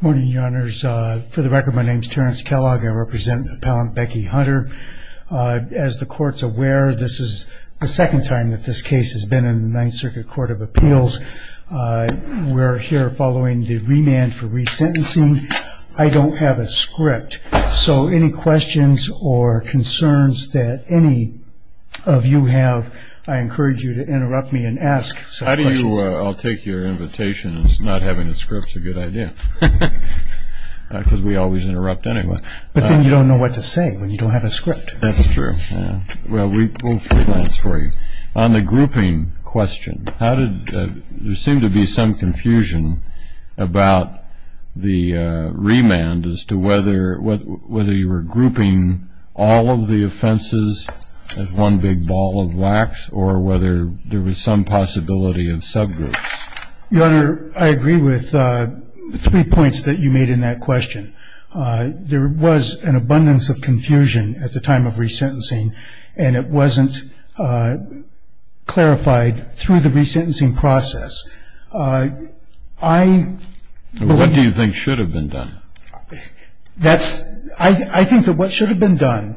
morning your honors for the record my name is Terrence Kellogg I represent appellant Becky Hunter as the courts aware this is the second time that this case has been in the Ninth Circuit Court of Appeals we're here following the remand for resentencing I don't have a script so any questions or concerns that any of you have I encourage you to interrupt me and ask so how do you I'll take your invitation it's not having a script it's a good idea because we always interrupt anyway but then you don't know what to say when you don't have a script that's true yeah well we will freelance for you on the grouping question how did there seem to be some confusion about the remand as to whether what whether you were grouping all of the offenses as one big ball of wax or whether there was some possibility of subgroups your honor I agree with three points that you made in that question there was an abundance of confusion at the time of resentencing and it wasn't clarified through the resentencing process I what do you think should have been done that's I think that what should have been done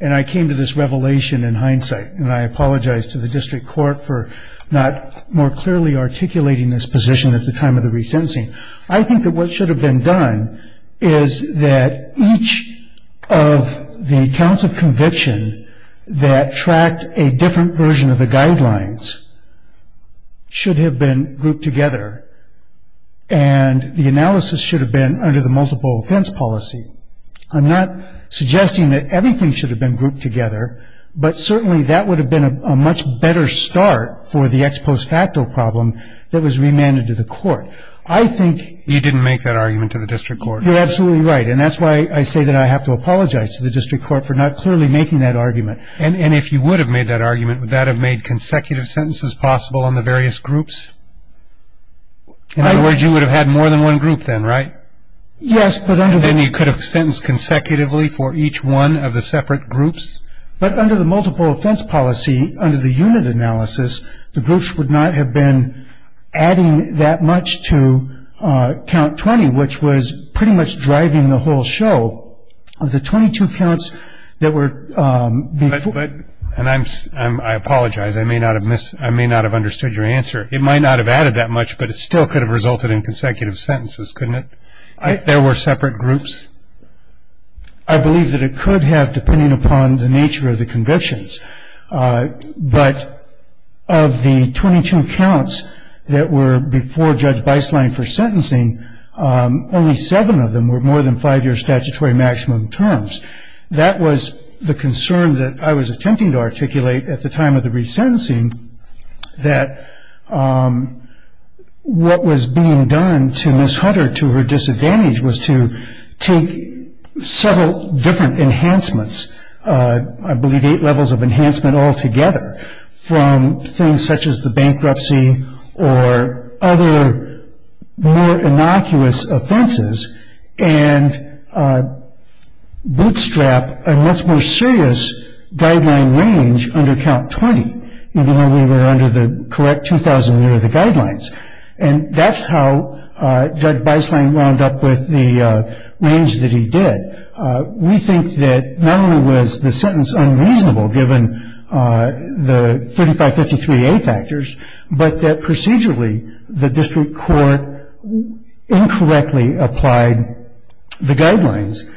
and I came to this revelation in hindsight and I apologize to the district court for not more clearly articulating this position at the time of the resentencing I think that what should have been done is that each of the counts of conviction that tracked a different version of the guidelines should have been grouped together and the analysis should have been under the multiple offense policy I'm not suggesting that everything should have been grouped together but certainly that would have been a much better start for the ex post facto problem that was remanded to the court I think you didn't make that argument to the district court you're absolutely right and that's why I say that I have to apologize to the district court for not clearly making that argument and if you would have made that argument would that have made consecutive sentences possible on the various groups in other words you would have had more than one group then right yes but under then you could have sentenced consecutively for each one of the separate groups but under the multiple offense policy under the unit analysis the groups would not have been adding that much to count 20 which was pretty much driving the whole show of the 22 counts that were but and I'm I'm I apologize I may not have missed I may not have understood your answer it might not have added that much but it still could have resulted in consecutive sentences couldn't it there were separate groups I believe that it could have depending upon the nature of the convictions but of the 22 counts that were before judge by slang for sentencing only seven of them were more than five years statutory maximum terms that was the concern that I was attempting to articulate at the time of the resentencing that what was being done to miss hunter to her disadvantage was to take several different enhancements I believe eight levels of enhancement all together from things such as the bankruptcy or other more innocuous offenses and bootstrap a much more serious guideline range under count 20 even though we were under the correct mm near the guidelines and that's how judge by slang wound up with the range that he did we think that memory was the sentence unreasonable given the 3553 a factors but that procedurally the district court incorrectly applied the guidelines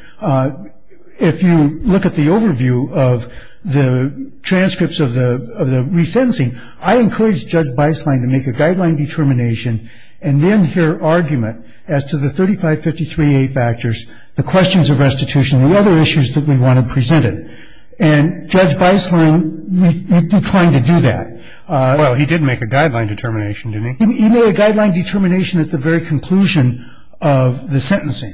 if you look at the overview of the transcripts of the resentencing I encourage judge by slang to make a argument as to the 3553 a factors the questions of restitution the other issues that we want to present it and judge by slang declined to do that well he did make a guideline determination to me even a guideline determination at the very conclusion of the sentencing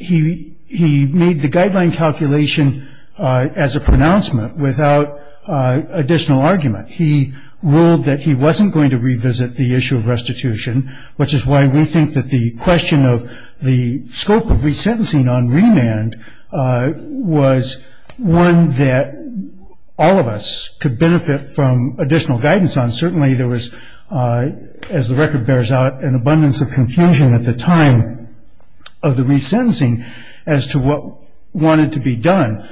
he he made the guideline calculation as a pronouncement without additional argument he ruled that he wasn't going to revisit the issue of restitution which is why we think that the question of the scope of resentencing on remand was one that all of us could benefit from additional guidance on certainly there was as the record bears out an abundance of confusion at the time of the resentencing as to what wanted to be done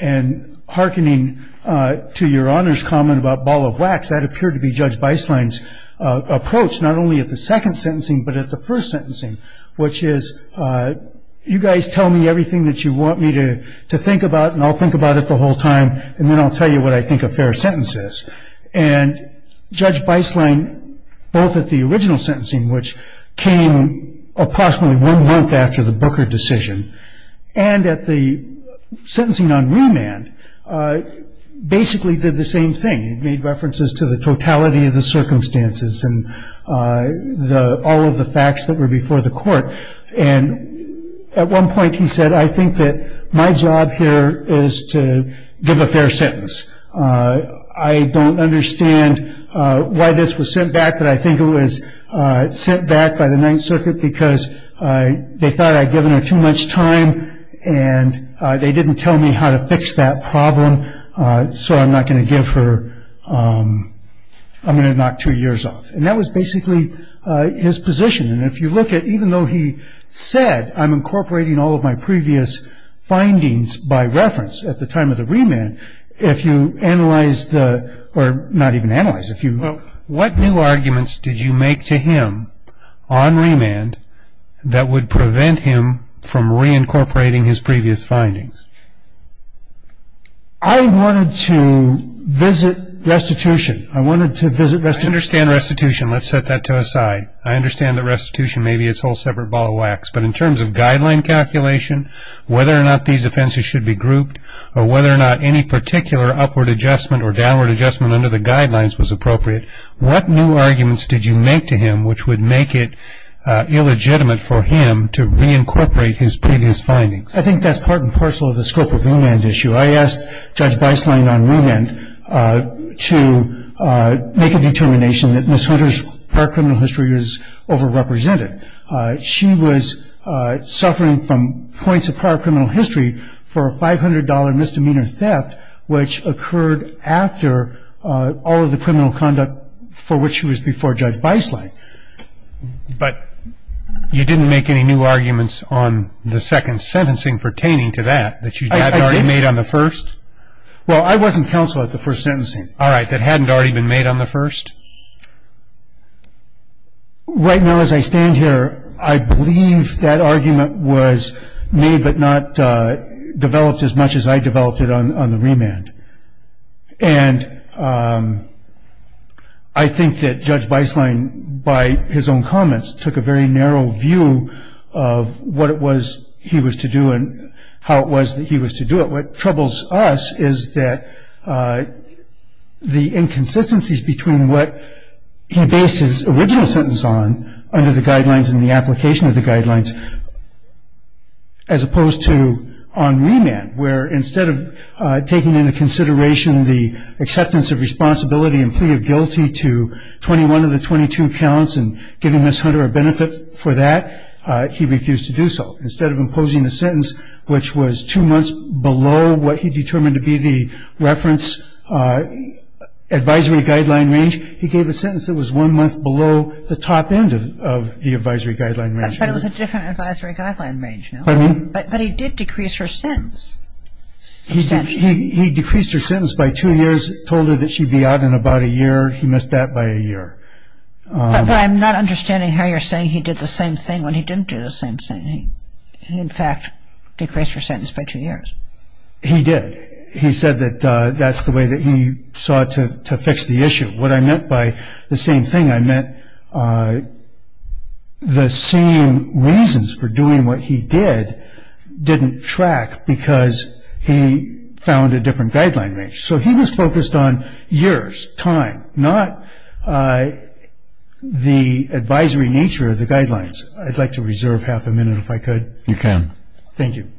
and hearkening to your honor's comment about ball of wax that appeared to be judged by slimes approach not only at the second sentencing but at the first sentencing which is you guys tell me everything that you want me to to think about and I'll think about it the whole time and then I'll tell you what I think of fair sentences and judge by slang both at the original sentencing which came approximately one month after the Booker decision and at the sentencing on remand basically did the same thing made references to the totality of the circumstances and the all of the facts that were before the court and at one point he said I think that my job here is to give a fair sentence I don't understand why this was sent back but I think it was sent back by the Ninth Circuit because they thought I'd given her too much time and they didn't tell me how to fix that problem so I'm not going to give her I'm going to knock two years off and that was basically his position and if you look at even though he said I'm incorporating all of my previous findings by reference at the time of the remand if you analyze the or not even analyze if you know what new arguments did you make to him on remand that would prevent him from reincorporating his previous findings I wanted to visit restitution I wanted to visit this understand restitution let's set that to a side I understand that restitution maybe it's whole separate ball of wax but in terms of guideline calculation whether or not these offenses should be grouped or whether or not any particular upward adjustment or downward adjustment under the guidelines was appropriate what new arguments did you make to him which would make it illegitimate for him to reincorporate his previous findings I think that's part and parcel of the scope of the land issue I asked judge by slang on remand to make a determination that miss hunters her criminal history is over represented she was suffering from points of power criminal history for a $500 misdemeanor theft which occurred after all of the but you didn't make any new arguments on the second sentencing pertaining to that that you have already made on the first well I wasn't counsel at the first sentencing all right that hadn't already been made on the first right now as I stand here I believe that argument was made but not developed as much as I his own comments took a very narrow view of what it was he was to do and how it was that he was to do it what troubles us is that the inconsistencies between what he based his original sentence on under the guidelines in the application of the guidelines as opposed to on remand where instead of taking into consideration the acceptance of responsibility and plea of guilty to 21 of the 22 counts and giving this hunter a benefit for that he refused to do so instead of imposing a sentence which was too much below what he determined to be the reference advisory guideline range he gave a sentence that was one month below the top end of the advisory guideline range but he did decrease her sentence he decreased her sentence by two years told her that she'd be out in about a year he missed that by a year I'm not understanding how you're saying he did the same thing when he didn't do the same thing in fact decreased her sentence by two years he did he said that that's the way that he sought to fix the issue what I meant by the same thing I meant the same reasons for doing what he did didn't track because he found a different guideline range so he was focused on years time not I the advisory nature of the guidelines I'd like to reserve half a minute if I could you can thank you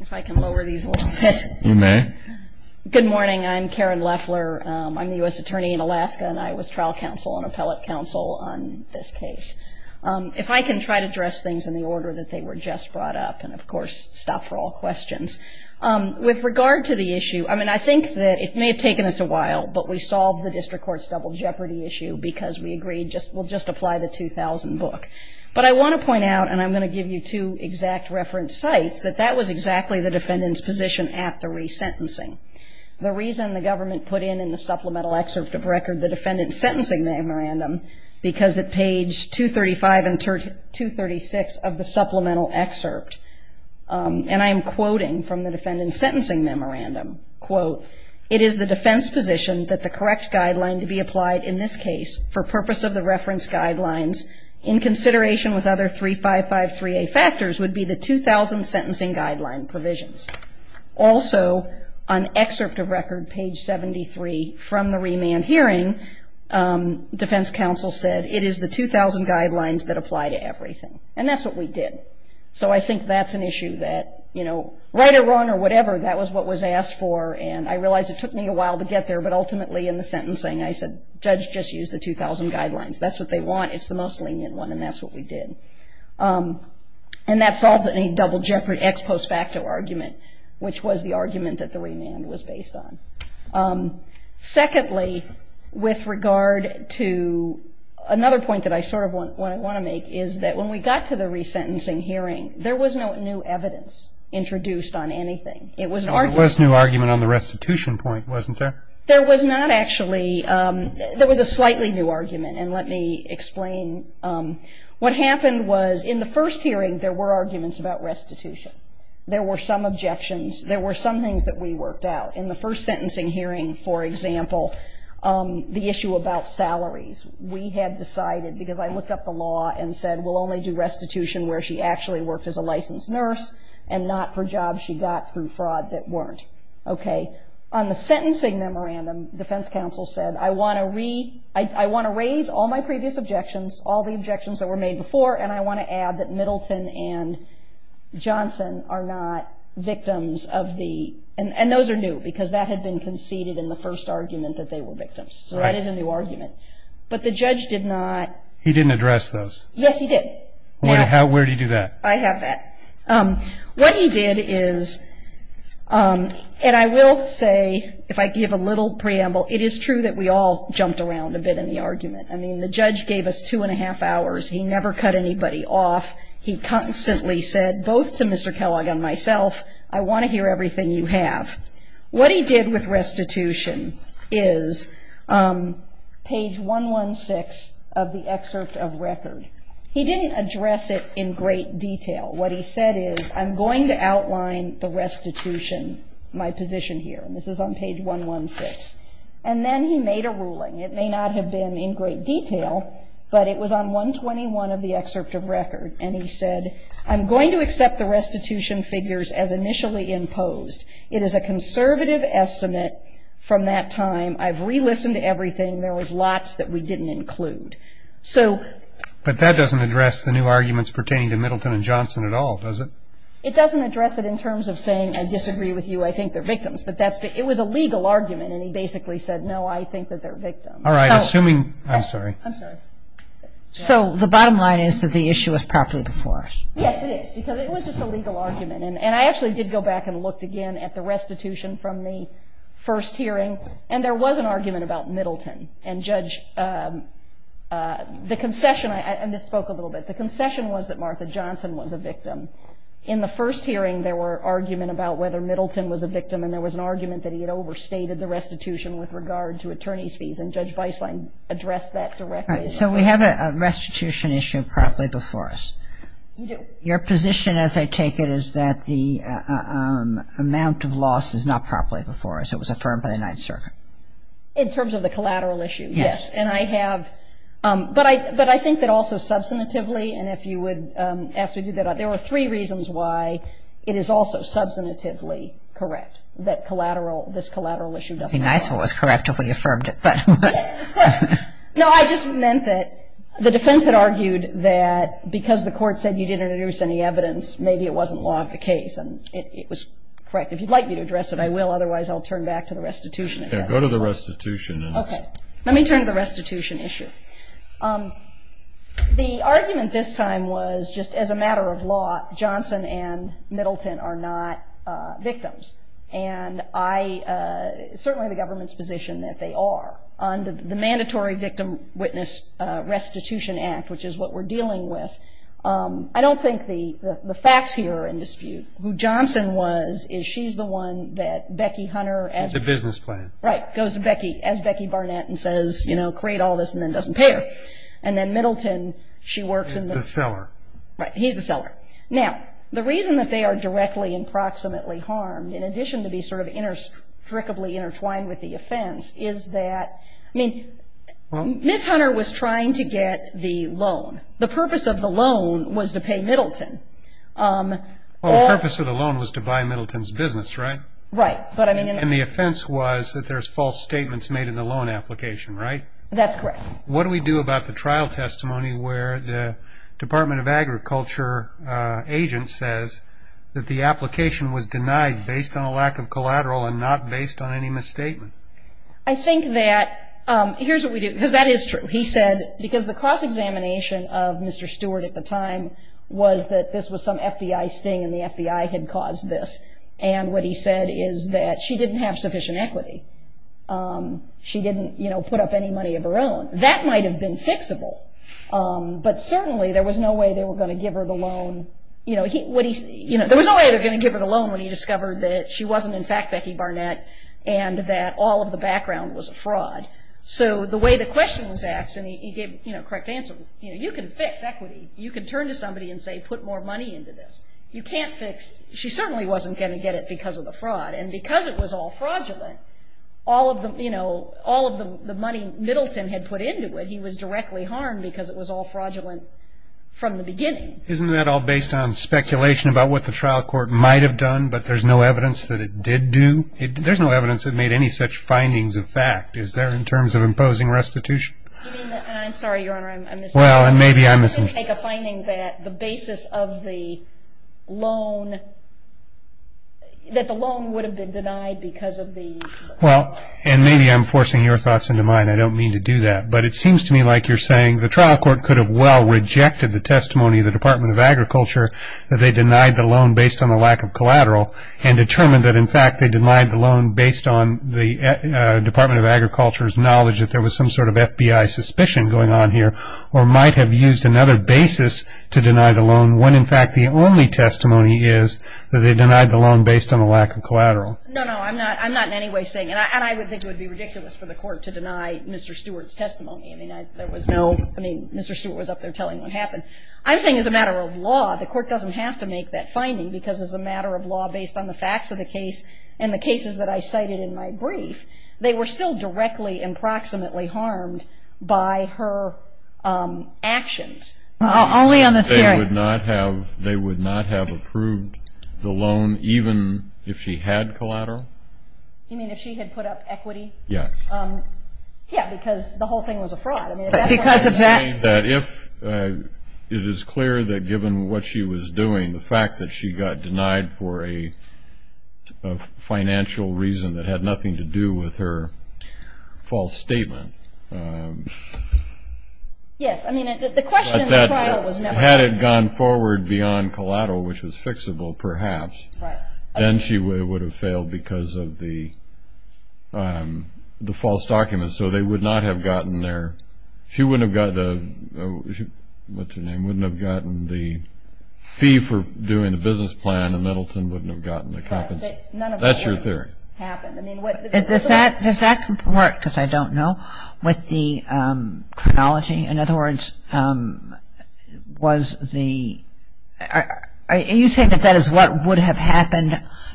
if I can lower these you may good morning I'm Karen Leffler I'm the US counsel on appellate counsel on this case if I can try to dress things in the order that they were just brought up and of course stop for all questions with regard to the issue I mean I think that it may have taken us a while but we solved the district courts double jeopardy issue because we agreed just will just apply the 2000 book but I want to point out and I'm going to give you two exact reference sites that that was exactly the defendant's position at the resentencing the reason the government put in in the supplemental excerpt of record the defendant's sentencing memorandum because at page 235 and 236 of the supplemental excerpt and I am quoting from the defendant's sentencing memorandum quote it is the defense position that the correct guideline to be applied in this case for purpose of the reference guidelines in consideration with other three five five three a factors would be the two thousand sentencing guideline provisions also on excerpt of record page 73 from the hearing defense counsel said it is the 2,000 guidelines that apply to everything and that's what we did so I think that's an issue that you know right or wrong or whatever that was what was asked for and I realized it took me a while to get there but ultimately in the sentencing I said judge just used the 2,000 guidelines that's what they want it's the most lenient one and that's what we did and that solves any double jeopardy ex post facto argument which was the with regard to another point that I sort of want what I want to make is that when we got to the resentencing hearing there was no new evidence introduced on anything it was our first new argument on the restitution point wasn't there there was not actually there was a slightly new argument and let me explain what happened was in the first hearing there were arguments about restitution there were some objections there were some things that we worked out in the first sentencing hearing for example the issue about salaries we had decided because I looked up the law and said we'll only do restitution where she actually worked as a licensed nurse and not for jobs she got through fraud that weren't okay on the sentencing memorandum defense counsel said I want to read I want to raise all my previous objections all the objections that were made before and I want to add that Middleton and Johnson are not victims of the and those are new because that had been conceded in the first argument that they were victims so that is a new argument but the judge did not he didn't address those yes he did where do you do that I have that what he did is and I will say if I give a little preamble it is true that we all jumped around a bit in the argument I mean the judge gave us two and a half hours he never cut anybody off he constantly said both to mr. Kellogg and myself I want to hear everything you have what he did with restitution is page 116 of the excerpt of record he didn't address it in great detail what he said is I'm going to outline the restitution my position here and this is on page 116 and then he made a ruling it may not have been in great detail but it was on 121 of the excerpt of record and he said I'm going to accept the restitution figures as initially imposed it is a conservative estimate from that time I've relistened to everything there was lots that we didn't include so but that doesn't address the new arguments pertaining to Middleton and Johnson at all does it it doesn't address it in terms of saying I disagree with you I think they're victims but that's it was a legal argument and he basically said no I think that they're victims all right assuming I'm sorry I'm sorry so the go back and looked again at the restitution from the first hearing and there was an argument about Middleton and judge the concession I misspoke a little bit the concession was that Martha Johnson was a victim in the first hearing there were argument about whether Middleton was a victim and there was an argument that he had overstated the restitution with regard to attorneys fees and judge by sign address that directly so we have a restitution issue properly before us your position as I take it is that the amount of loss is not properly before us it was affirmed by the Ninth Circuit in terms of the collateral issue yes and I have but I but I think that also substantively and if you would have to do that there were three reasons why it is also substantively correct that collateral this collateral issue doesn't nice what was correct if we affirmed it but no I just meant that the defense had argued that because the court said you didn't reduce any evidence maybe it wasn't law of the case and it was correct if you'd like me to address it I will otherwise I'll turn back to the restitution go to the restitution okay let me turn to the restitution issue the argument this time was just as a matter of law Johnson and Middleton are not victims and I certainly the government's position that they are on the mandatory victim witness restitution act which is what we're dealing with I don't think the the facts here in dispute who Johnson was is she's the one that Becky Hunter as a business plan right goes to Becky as Becky Barnett and says you know create all this and then doesn't pay her and then Middleton she works in the cellar right he's the seller now the reason that they are directly and proximately harmed in addition to be sort of strictly intertwined with the offense is that I mean well miss Hunter was trying to get the loan the purpose of the loan was to pay Middleton well the purpose of the loan was to buy Middleton's business right right but I mean and the offense was that there's false statements made in the loan application right that's correct what do we do about the trial testimony where the Department of Agriculture agent says that the application was denied based on lack of collateral and not based on any misstatement I think that here's what we do because that is true he said because the cross-examination of mr. Stewart at the time was that this was some FBI sting and the FBI had caused this and what he said is that she didn't have sufficient equity she didn't you know put up any money of her own that might have been fixable but certainly there was no way they were going to give her the loan you know he would he you know there was no way they're gonna give her the loan when he discovered that she wasn't in fact Becky Barnett and that all of the background was a fraud so the way the question was asked and he gave you know correct answer you know you can fix equity you can turn to somebody and say put more money into this you can't fix she certainly wasn't going to get it because of the fraud and because it was all fraudulent all of them you know all of them the money Middleton had put into it he was directly harmed because it was all fraudulent from the trial court might have done but there's no evidence that it did do it there's no evidence that made any such findings of fact is there in terms of imposing restitution well and maybe I'm missing a finding that the basis of the loan that the loan would have been denied because of the well and maybe I'm forcing your thoughts into mine I don't mean to do that but it seems to me like you're saying the trial court could have well rejected the testimony of the Department of Agriculture that they denied the loan based on the lack of collateral and determined that in fact they denied the loan based on the Department of Agriculture's knowledge that there was some sort of FBI suspicion going on here or might have used another basis to deny the loan when in fact the only testimony is that they denied the loan based on a lack of collateral no no I'm not I'm not in any way saying and I would think it would be ridiculous for the court to deny mr. Stewart's testimony I mean there was no I mean mr. Stewart was up I'm saying as a matter of law the court doesn't have to make that finding because as a matter of law based on the facts of the case and the cases that I cited in my brief they were still directly and proximately harmed by her actions only on the theory would not have they would not have approved the loan even if she had collateral you mean if she had put up equity yes yeah that if it is clear that given what she was doing the fact that she got denied for a financial reason that had nothing to do with her false statement had it gone forward beyond collateral which was fixable perhaps then she would have because of the the false documents so they would not have gotten there she wouldn't have got the what's-her-name wouldn't have gotten the fee for doing the business plan and Middleton wouldn't have gotten the company that's your theory does that does that work because I don't know with the chronology in other words was the are you saying that that is what would have happened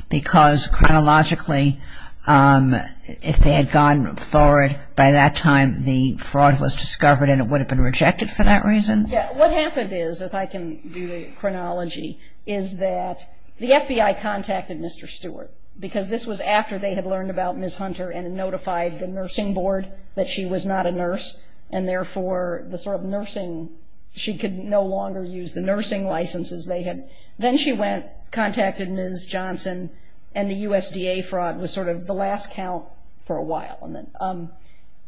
because chronologically if they had gone forward by that time the fraud was discovered and it would have been rejected for that reason what happened is if I can do the chronology is that the FBI contacted mr. Stewart because this was after they had learned about miss hunter and notified the nursing board that she was not a nurse and therefore the sort of nursing she could no longer use the nursing licenses they had then she went contacted ms. Johnson and the USDA fraud was sort of the last count for a while and then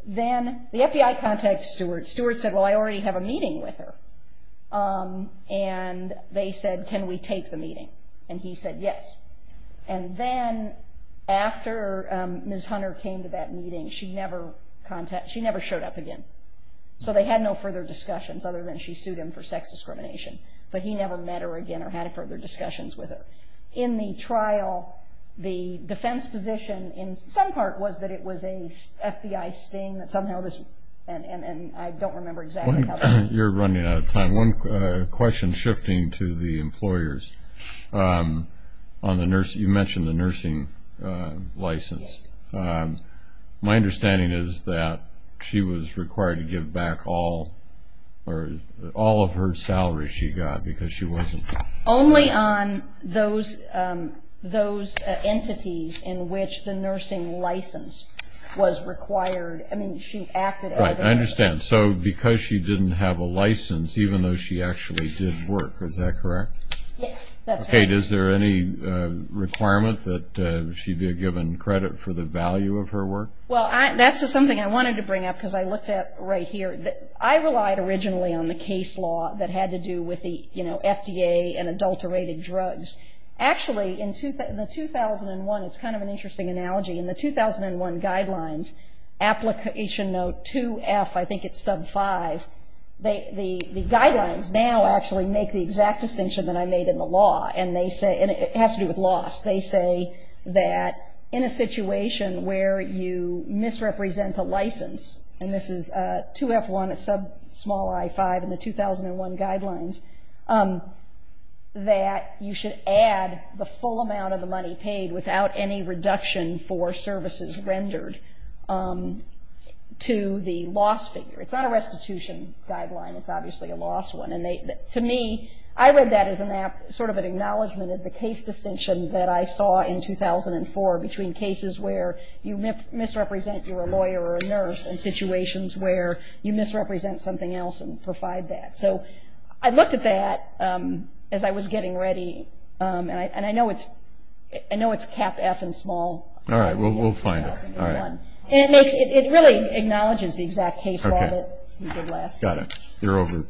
then the FBI contact Stewart Stewart said well I already have a meeting with her and they said can we take the meeting and he said yes and then after miss hunter came to that meeting she never contact she never showed up again so they had no further discussions other than she sued him for sex discrimination but he never met her again or had further discussions with her in the trial the defense position in some part was that it was a FBI sting that somehow this and and I don't remember exactly you're running out of time one question shifting to the employers on the nurse you mentioned the nursing license my understanding is that she was required to give back all or all of her salaries she got because she only on those those entities in which the nursing license was required I mean she acted I understand so because she didn't have a license even though she actually did work is that correct Kate is there any requirement that she'd be given credit for the value of her work well that's just something I wanted to bring up because I looked at right here that I relied originally on the case law that had to do with the you know FDA and adulterated drugs actually in 2001 it's kind of an interesting analogy in the 2001 guidelines application note 2f I think it's sub 5 they the guidelines now actually make the exact distinction that I made in the law and they say and it has to do with loss they say that in a situation where you misrepresent the license and this is 2f1 it's a small i5 in the 2001 guidelines that you should add the full amount of the money paid without any reduction for services rendered to the loss figure it's not a restitution guideline it's obviously a loss one and they to me I read that as an app sort of an acknowledgement of the case distinction that I saw in 2004 between cases where you misrepresent you're a lawyer or a nurse and so I looked at that as I was getting ready and I and I know it's I know it's cap F and small all right well we'll find it all right and it makes it really acknowledges the exact case got it you're over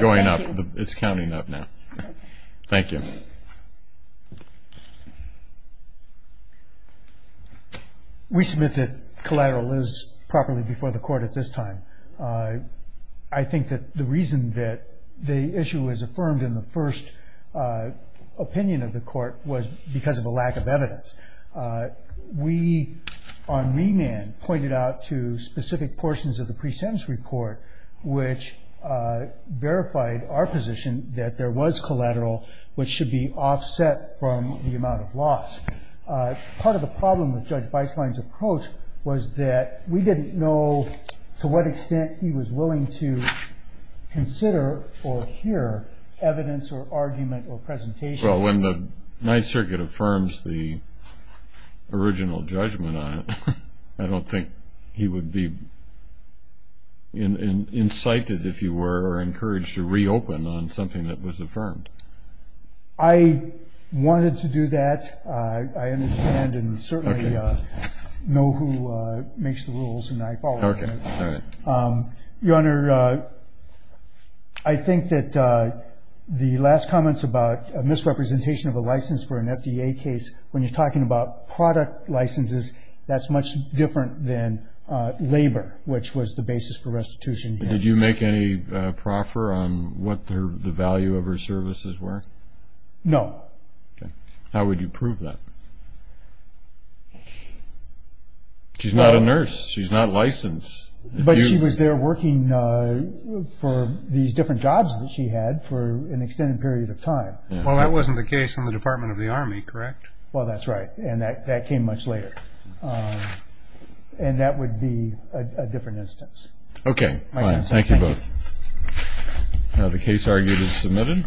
going up it's counting up now thank you we submit that collateral is properly before the court at this time I think that the reason that the issue is affirmed in the first opinion of the court was because of a lack of evidence we on remand pointed out to specific portions of the pre-sentence report which verified our position that there was collateral which should be offset from the amount of loss part of judge by slides approach was that we didn't know to what extent he was willing to consider or hear evidence or argument or presentation well when the Ninth Circuit affirms the original judgment on it I don't think he would be incited if you were encouraged to reopen on something that was affirmed I wanted to do that I understand and certainly know who makes the rules and I follow your honor I think that the last comments about misrepresentation of a license for an FDA case when you're talking about product licenses that's much different than labor which was the basis for restitution did you make any proffer on what the value of her services were no how would you prove that she's not a nurse she's not licensed but she was there working for these different jobs that she had for an extended period of time well that wasn't the case in the Department of the Army correct well that's right and that came much later and that would be a different instance okay thank you both now the case argued is submitted